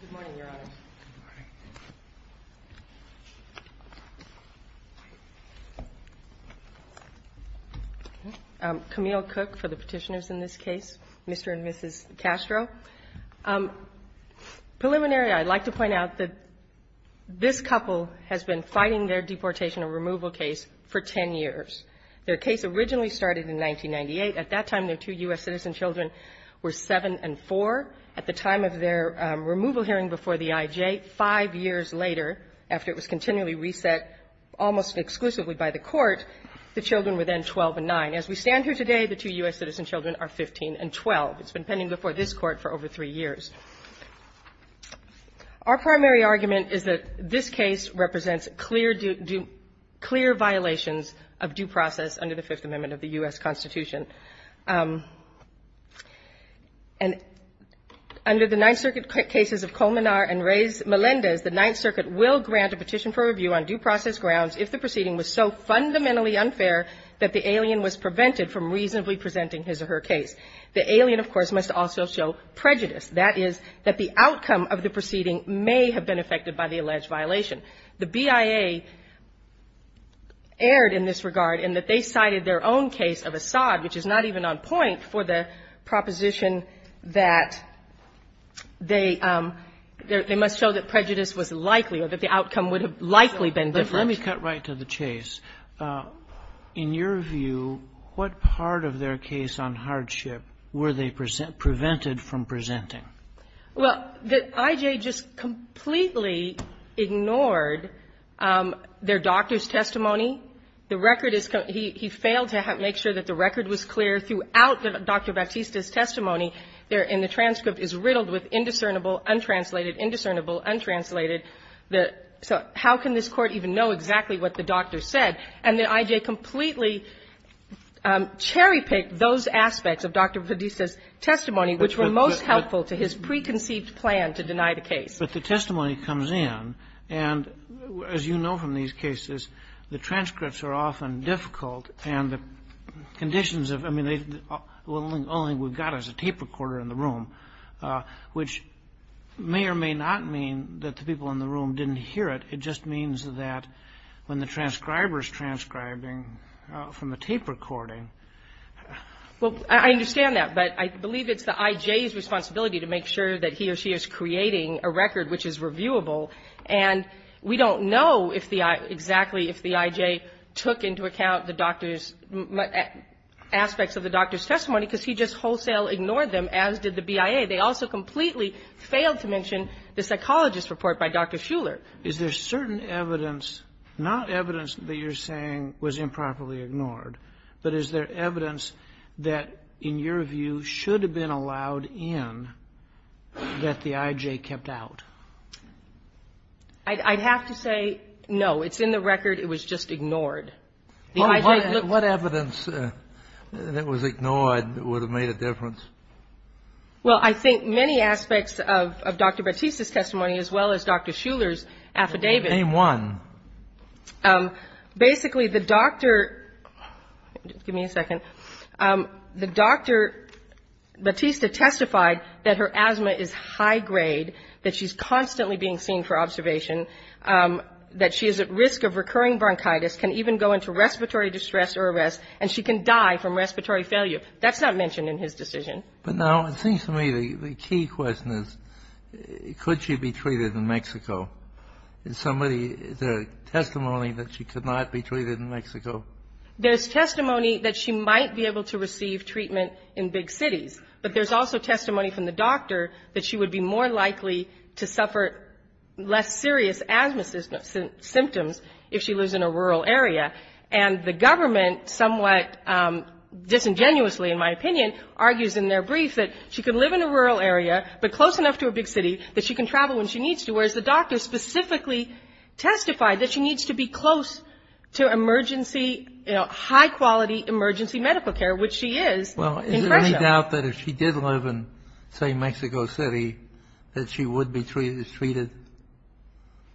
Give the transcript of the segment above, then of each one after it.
Good morning, Your Honors. Good morning. Camille Cook for the Petitioners in this case, Mr. and Mrs. Castro. Preliminary, I'd like to point out that this couple has been fighting their deportation and removal case for 10 years. Their case originally started in 1998. At that time, their two U.S. citizen children were 7 and 4. At the time of their removal hearing before the IJ, 5 years later, after it was continually reset almost exclusively by the Court, the children were then 12 and 9. As we stand here today, the two U.S. citizen children are 15 and 12. It's been pending before this Court for over 3 years. Our primary argument is that this case represents clear due – clear violations of due process under the Fifth Amendment of the U.S. Constitution. And under the Ninth Circuit cases of Colmenar and Melendez, the Ninth Circuit will grant a petition for review on due process grounds if the proceeding was so fundamentally unfair that the alien was prevented from reasonably presenting his or her case. The alien, of course, must also show prejudice. That is, that the outcome of the proceeding may have been affected by the alleged violation. The BIA erred in this regard in that they cited their own case of Assad, which is not even on point, for the proposition that they – they must show that prejudice was likely or that the outcome would have likely been different. But let me cut right to the chase. In your view, what part of their case on hardship were they prevented from presenting? Well, the I.J. just completely ignored their doctor's testimony. The record is – he failed to make sure that the record was clear throughout Dr. Batista's testimony. And the transcript is riddled with indiscernible, untranslated, indiscernible, untranslated. So how can this Court even know exactly what the doctor said? And the I.J. completely cherry-picked those aspects of Dr. Batista's testimony which were most helpful to his preconceived plan to deny the case. But the testimony comes in, and as you know from these cases, the transcripts are often difficult, and the conditions of – I mean, the only thing we've got is a tape recorder in the room, which may or may not mean that the people in the room didn't hear it. It just means that when the transcriber is transcribing from a tape recording – Well, I understand that. But I believe it's the I.J.'s responsibility to make sure that he or she is creating a record which is reviewable. And we don't know if the – exactly if the I.J. took into account the doctor's – aspects of the doctor's testimony, because he just wholesale ignored them, as did the BIA. They also completely failed to mention the psychologist's report by Dr. Schuller. Is there certain evidence – not evidence that you're saying was improperly that, in your view, should have been allowed in that the I.J. kept out? I'd have to say no. It's in the record. It was just ignored. What evidence that was ignored would have made a difference? Well, I think many aspects of Dr. Battista's testimony, as well as Dr. Schuller's affidavit – Name one. Basically, the doctor – give me a second – the doctor – Battista testified that her asthma is high-grade, that she's constantly being seen for observation, that she is at risk of recurring bronchitis, can even go into respiratory distress or arrest, and she can die from respiratory failure. That's not mentioned in his decision. But now, it seems to me the key question is, could she be treated in Mexico? Is somebody – is there testimony that she could not be treated in Mexico? There's testimony that she might be able to receive treatment in big cities, but there's also testimony from the doctor that she would be more likely to suffer less serious asthma symptoms if she lives in a rural area. And the government somewhat disingenuously, in my opinion, argues in their brief that she could live in a rural area, but close enough to a big city that she can travel when she needs to, whereas the doctor specifically testified that she needs to be close to emergency – high-quality emergency medical care, which she is. Well, is there any doubt that if she did live in, say, Mexico City, that she would be treated?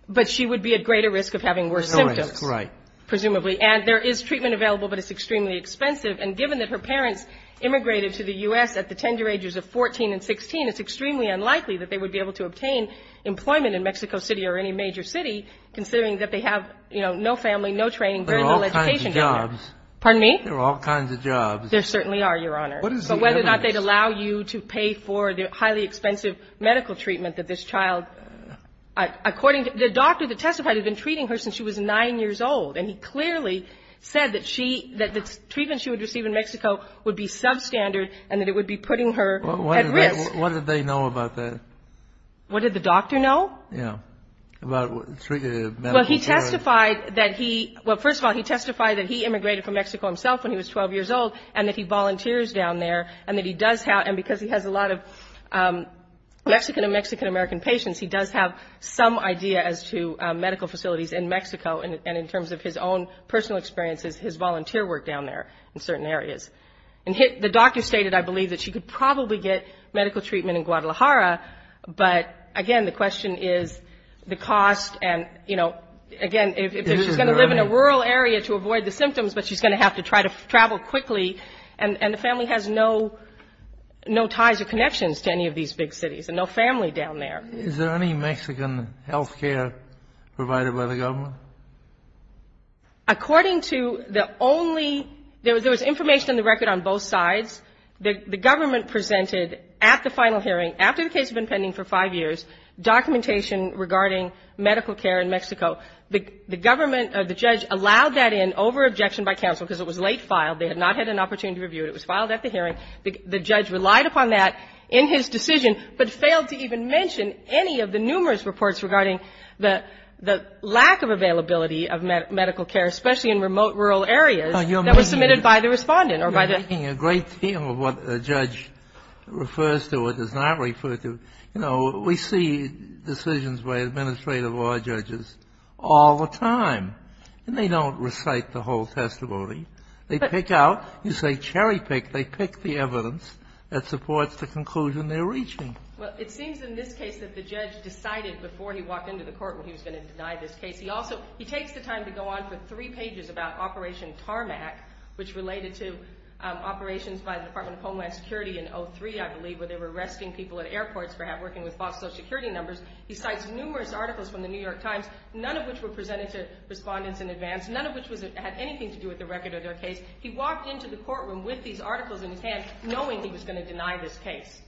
But she would be at greater risk of having worse symptoms. Right. Presumably. And there is treatment available, but it's extremely expensive. And given that her parents immigrated to the U.S. at the tender ages of 14 and 16, it's extremely unlikely that they would be able to obtain employment in Mexico City or any major city, considering that they have, you know, no family, no training, very little education. There are all kinds of jobs. Pardon me? There are all kinds of jobs. There certainly are, Your Honor. What is the evidence? But whether or not they'd allow you to pay for the highly expensive medical treatment that this child – according to – the doctor that testified had been treating her since she was 9 years old, and he clearly said that she – that the treatment she would receive in Mexico would be substandard and that it would be putting her at risk. What did they know about that? What did the doctor know? Yeah. About treating a medical child? Well, he testified that he – well, first of all, he testified that he immigrated from Mexico himself when he was 12 years old and that he volunteers down there and that he does have – and because he has a lot of Mexican and Mexican-American patients, he does have some idea as to medical facilities in Mexico and in terms of his own personal experiences, his volunteer work down there in certain areas. And the doctor stated, I could probably get medical treatment in Guadalajara, but, again, the question is the cost and, you know, again, if she's going to live in a rural area to avoid the symptoms, but she's going to have to try to travel quickly. And the family has no ties or connections to any of these big cities and no family down there. Is there any Mexican health care provided by the government? According to the only – there was information on the record on both sides. The government presented at the final hearing, after the case had been pending for five years, documentation regarding medical care in Mexico. The government or the judge allowed that in over objection by counsel because it was late filed. They had not had an opportunity to review it. It was filed at the hearing. The judge relied upon that in his decision, but failed to even mention any of the numerous reports regarding the lack of availability of medical care, especially in remote rural areas that were submitted by the Respondent or by the – what a judge refers to or does not refer to. You know, we see decisions by administrative law judges all the time, and they don't recite the whole testimony. They pick out – you say cherry pick. They pick the evidence that supports the conclusion they're reaching. Well, it seems in this case that the judge decided before he walked into the court when he was going to deny this case. He also – he takes the time to go on for three security in 03, I believe, where they were arresting people at airports perhaps working with fossil security numbers. He cites numerous articles from the New York Times, none of which were presented to Respondents in advance, none of which had anything to do with the record of their case. He walked into the courtroom with these articles in his hand, knowing he was going to deny this case.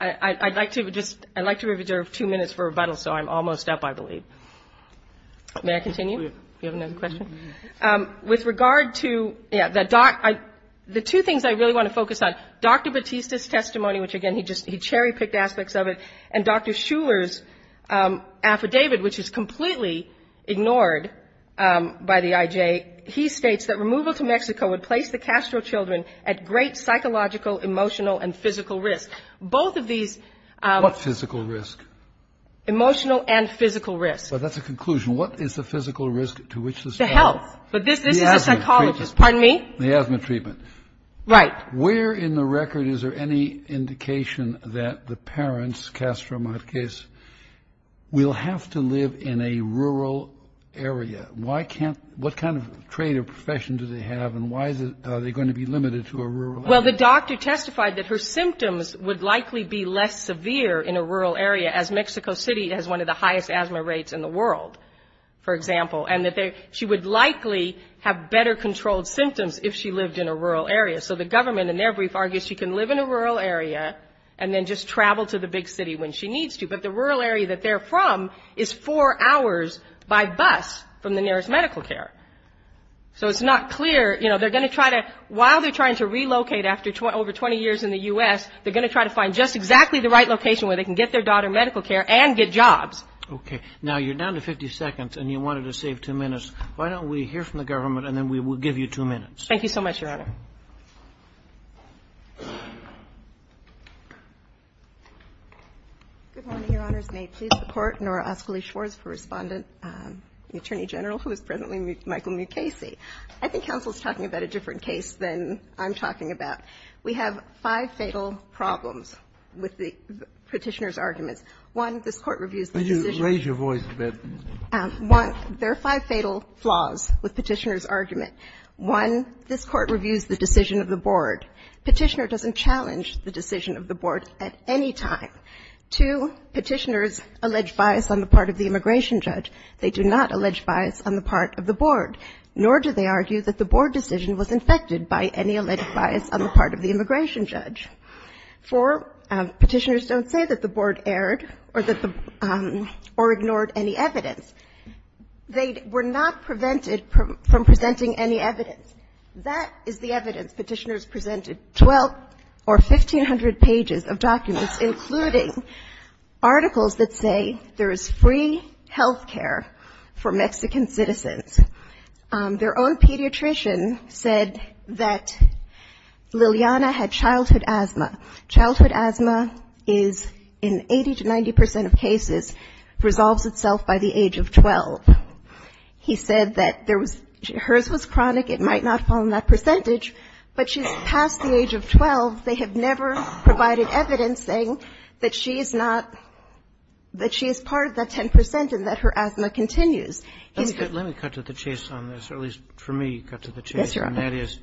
I'd like to just – I'd like to reserve two minutes for rebuttal, so I'm almost up, I believe. May I continue? You have another question? With regard to the – the two things I really want to focus on, Dr. Batista's testimony, which, again, he just – he cherry picked aspects of it, and Dr. Shuler's affidavit, which is completely ignored by the IJ, he states that removal to Mexico would place the Castro children at great psychological, emotional, and physical risk. Both of these – What physical risk? Emotional and physical risk. Well, that's a conclusion. What is the physical risk to which this – To health. But this is a psychologist. Pardon me? The asthma treatment. Right. Where in the record is there any indication that the parents, Castro Marquez, will have to live in a rural area? Why can't – what kind of trade or profession do they have, and why is it – are they going to be limited to a rural area? Well, the doctor testified that her symptoms would likely be less severe in a rural area, as Mexico City has one of the highest asthma rates in the world, for example, and that she would likely have better controlled symptoms if she lived in a rural area. So the government in their brief argues she can live in a rural area and then just travel to the big city when she needs to. But the rural area that they're from is four hours by bus from the nearest medical care. So it's not clear – you know, they're going to try to – while they're trying to relocate after over 20 years in the U.S., they're going to try to find just exactly the right location where they can get their daughter medical care and get jobs. Okay. Now, you're down to 50 seconds, and you wanted to save two minutes. Why don't we hear from the government, and then we will give you two minutes? Thank you so much, Your Honor. Good morning, Your Honors. May it please the Court, Nora Oskoli-Schwartz, for Respondent, the Attorney General, who is presently Michael Mukasey. I think counsel is talking about a different case than I'm talking about. We have five fatal problems with the Petitioner's arguments. One, this Court reviews the decision of the board. Could you raise your voice a bit? One, there are five fatal flaws with Petitioner's argument. One, this Court reviews the decision of the board. Petitioner doesn't challenge the decision of the board at any time. Two, Petitioner's alleged bias on the part of the immigration judge. They do not allege bias on the part of the board, nor do they argue that the board decision was infected by any alleged bias on the part of the immigration judge. Four, Petitioners don't say that the board erred or that the board ignored any evidence. They were not prevented from presenting any evidence. That is the evidence Petitioner's presented. Twelve or 1,500 pages of documents, including articles that say there is free health care for Mexican citizens. Their own pediatrician said that Liliana had childhood asthma. Childhood asthma is, in 80 to 90 percent of cases, resolves itself by the age of 12. He said that there was hers was chronic. It might not fall in that percentage, but she's past the age of 12. They have never provided evidence saying that she is not, that she is part of that 10 percent and that her asthma continues. Let me cut to the chase on this, or at least for me cut to the chase. Yes, Your Honor. And that is,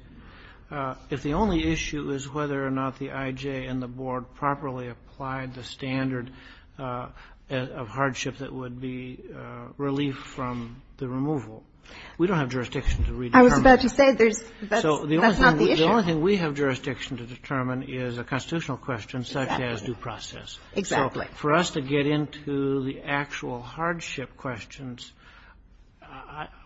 if the only issue is whether or not the I.J. and the board properly applied the standard of hardship that would be relief from the removal, we don't have jurisdiction to redetermine that. I was about to say there's, that's not the issue. So the only thing we have jurisdiction to determine is a constitutional question such as due process. Exactly. So for us to get into the actual hardship questions,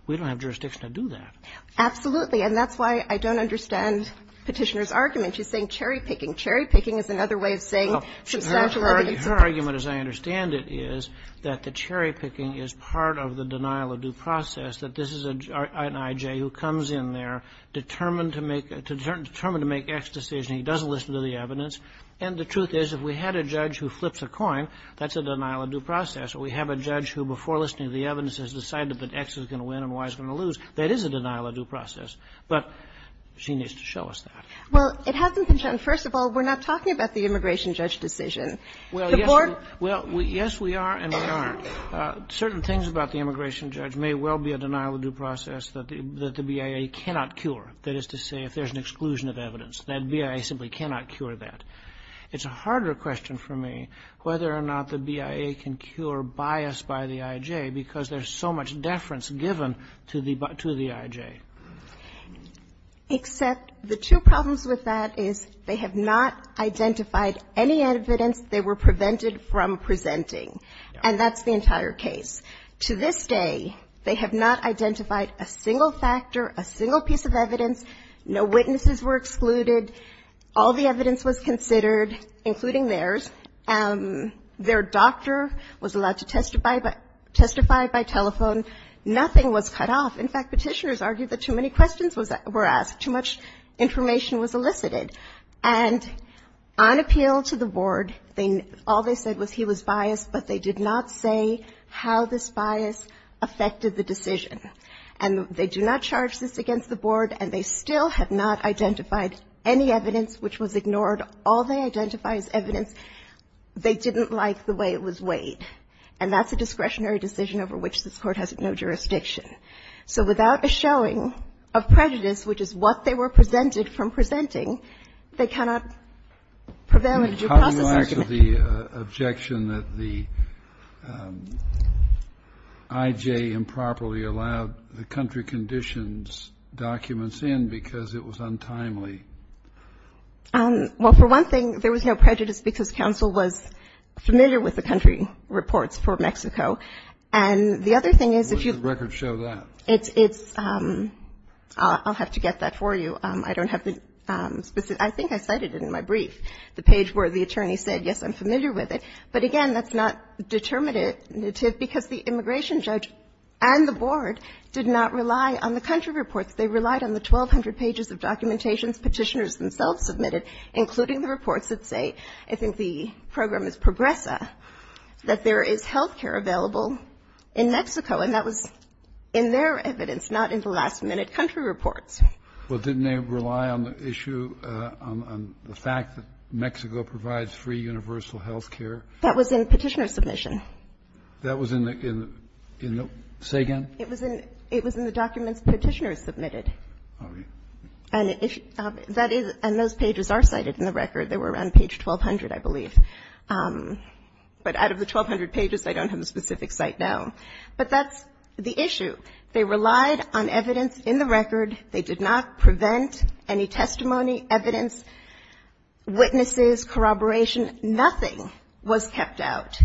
we don't have jurisdiction to do that. Absolutely. And that's why I don't understand Petitioner's argument. She's saying cherry-picking. Cherry-picking is another way of saying substantial evidence. Well, her argument, as I understand it, is that the cherry-picking is part of the denial of due process, that this is an I.J. who comes in there, determined to make, determined to make X decision. He doesn't listen to the evidence. And the truth is, if we had a judge who flips a coin, that's a denial of due process. Or we have a judge who, before listening to the evidence, has decided that X is going to win and Y is going to lose, that is a denial of due process. But she needs to show us that. Well, it hasn't been shown. First of all, we're not talking about the immigration judge decision. Well, yes, we are and we aren't. Certain things about the immigration judge may well be a denial of due process that the BIA cannot cure. That is to say, if there's an exclusion of evidence, that BIA simply cannot cure that. It's a harder question for me whether or not the BIA can cure bias by the I.J. because there's so much deference given to the I.J. Except the two problems with that is they have not identified any evidence they were prevented from presenting. And that's the entire case. To this day, they have not identified a single factor, a single piece of evidence. No witnesses were excluded. All the evidence was considered, including theirs. Their doctor was allowed to testify by telephone. Nothing was cut off. In fact, Petitioners argued that too many questions were asked, too much information was elicited. And on appeal to the Board, all they said was he was biased, but they did not say how this bias affected the decision. And they do not charge this against the Board, and they still have not identified any evidence which was ignored. All they identify as evidence, they didn't like the way it was weighed. And that's a discretionary decision over which this Court has no jurisdiction. So without a showing of prejudice, which is what they were presented from presenting, they cannot prevail in a due process argument. Kennedy, how do you answer the objection that the I.J. improperly allowed the country conditions documents in because it was untimely? Well, for one thing, there was no prejudice because counsel was familiar with the country reports for Mexico. And the other thing is if you ---- Where does the record show that? I'll have to get that for you. I don't have the specific. I think I cited it in my brief, the page where the attorney said, yes, I'm familiar with it. But again, that's not determinative because the immigration judge and the Board did not rely on the country reports. They relied on the 1,200 pages of documentations Petitioners themselves submitted, including the reports that say, I think the program is Progresa, that there is health care available in Mexico. And that was in their evidence, not in the last-minute country reports. Well, didn't they rely on the issue, on the fact that Mexico provides free universal health care? That was in Petitioner's submission. That was in the ---- Say again. It was in the documents Petitioner submitted. And that is ---- and those pages are cited in the record. They were on page 1,200, I believe. But out of the 1,200 pages, I don't have a specific cite now. But that's the issue. They relied on evidence in the record. They did not prevent any testimony, evidence, witnesses, corroboration. Nothing was kept out.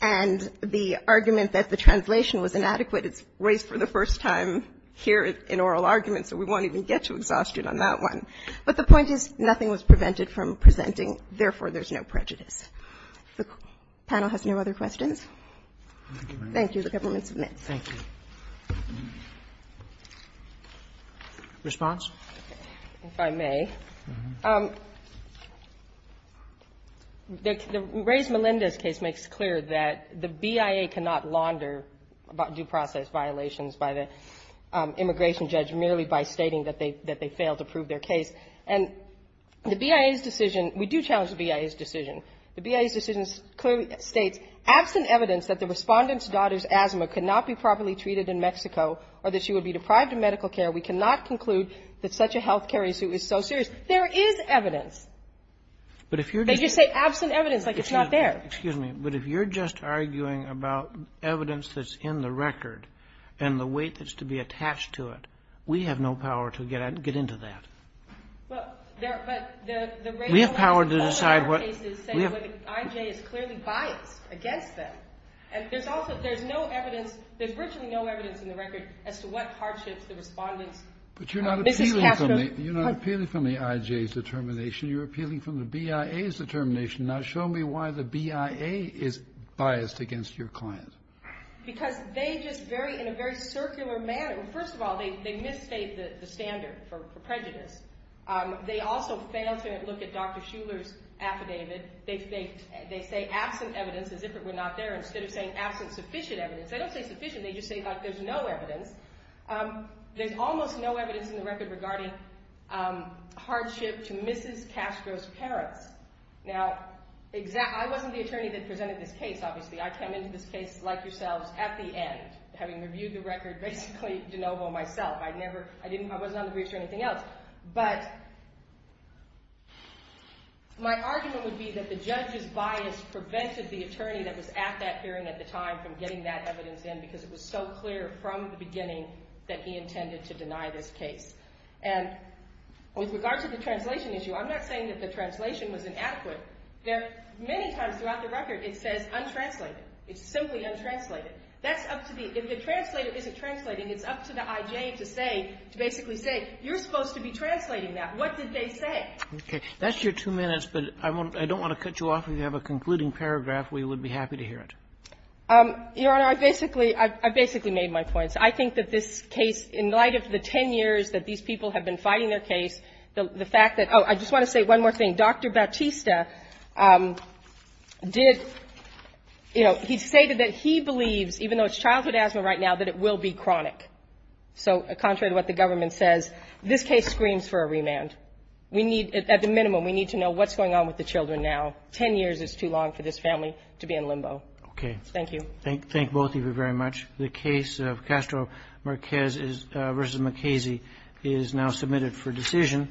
And the argument that the translation was inadequate, it's raised for the first time here in oral argument, so we won't even get to exhaustion on that one. But the point is, nothing was prevented from presenting. Therefore, there's no prejudice. The panel has no other questions? Thank you. The government submits. Roberts. Response? If I may. The Reyes-Melendez case makes clear that the BIA cannot launder due process violations by the immigration judge merely by stating that they failed to prove their case. And the BIA's decision ---- we do challenge the BIA's decision. The BIA's decision clearly states, Absent evidence that the Respondent's daughter's asthma could not be properly treated in Mexico or that she would be deprived of medical care, we cannot conclude that such a health care issue is so serious. There is evidence. But if you're just ---- They just say absent evidence, like it's not there. Excuse me. But if you're just arguing about evidence that's in the record and the weight that's to be attached to it, we have no power to get into that. Well, there ---- We have power to decide what ---- We have ---- I.J. is clearly biased against them. And there's also no evidence. There's virtually no evidence in the record as to what hardships the Respondent's ---- You're not appealing from the I.J.'s determination. You're appealing from the BIA's determination. Now, show me why the BIA is biased against your client. Because they just very ---- in a very circular manner. First of all, they misstate the standard for prejudice. They also fail to look at Dr. Shuler's affidavit. They say absent evidence as if it were not there instead of saying absent sufficient evidence. They don't say sufficient. They just say, like, there's no evidence. There's almost no evidence in the record regarding hardship to Mrs. Castro's parents. Now, I wasn't the attorney that presented this case, obviously. I came into this case, like yourselves, at the end, having reviewed the record basically de novo myself. I never ---- I didn't ---- I wasn't on the briefs or anything else. But my argument would be that the judge's bias prevented the attorney that was at that evidence in because it was so clear from the beginning that he intended to deny this case. And with regard to the translation issue, I'm not saying that the translation was inadequate. There are many times throughout the record it says untranslated. It's simply untranslated. That's up to the ---- if the translator isn't translating, it's up to the IJ to say, to basically say, you're supposed to be translating that. What did they say? Okay. That's your two minutes, but I don't want to cut you off. If you have a concluding paragraph, we would be happy to hear it. Your Honor, I basically made my points. I think that this case, in light of the ten years that these people have been fighting their case, the fact that ---- oh, I just want to say one more thing. Dr. Bautista did ---- you know, he stated that he believes, even though it's childhood asthma right now, that it will be chronic. So contrary to what the government says, this case screams for a remand. We need, at the minimum, we need to know what's going on with the children now. Ten years is too long for this family to be in limbo. Okay. Thank you. Thank both of you very much. The case of Castro-Marquez v. McKaysey is now submitted for decision.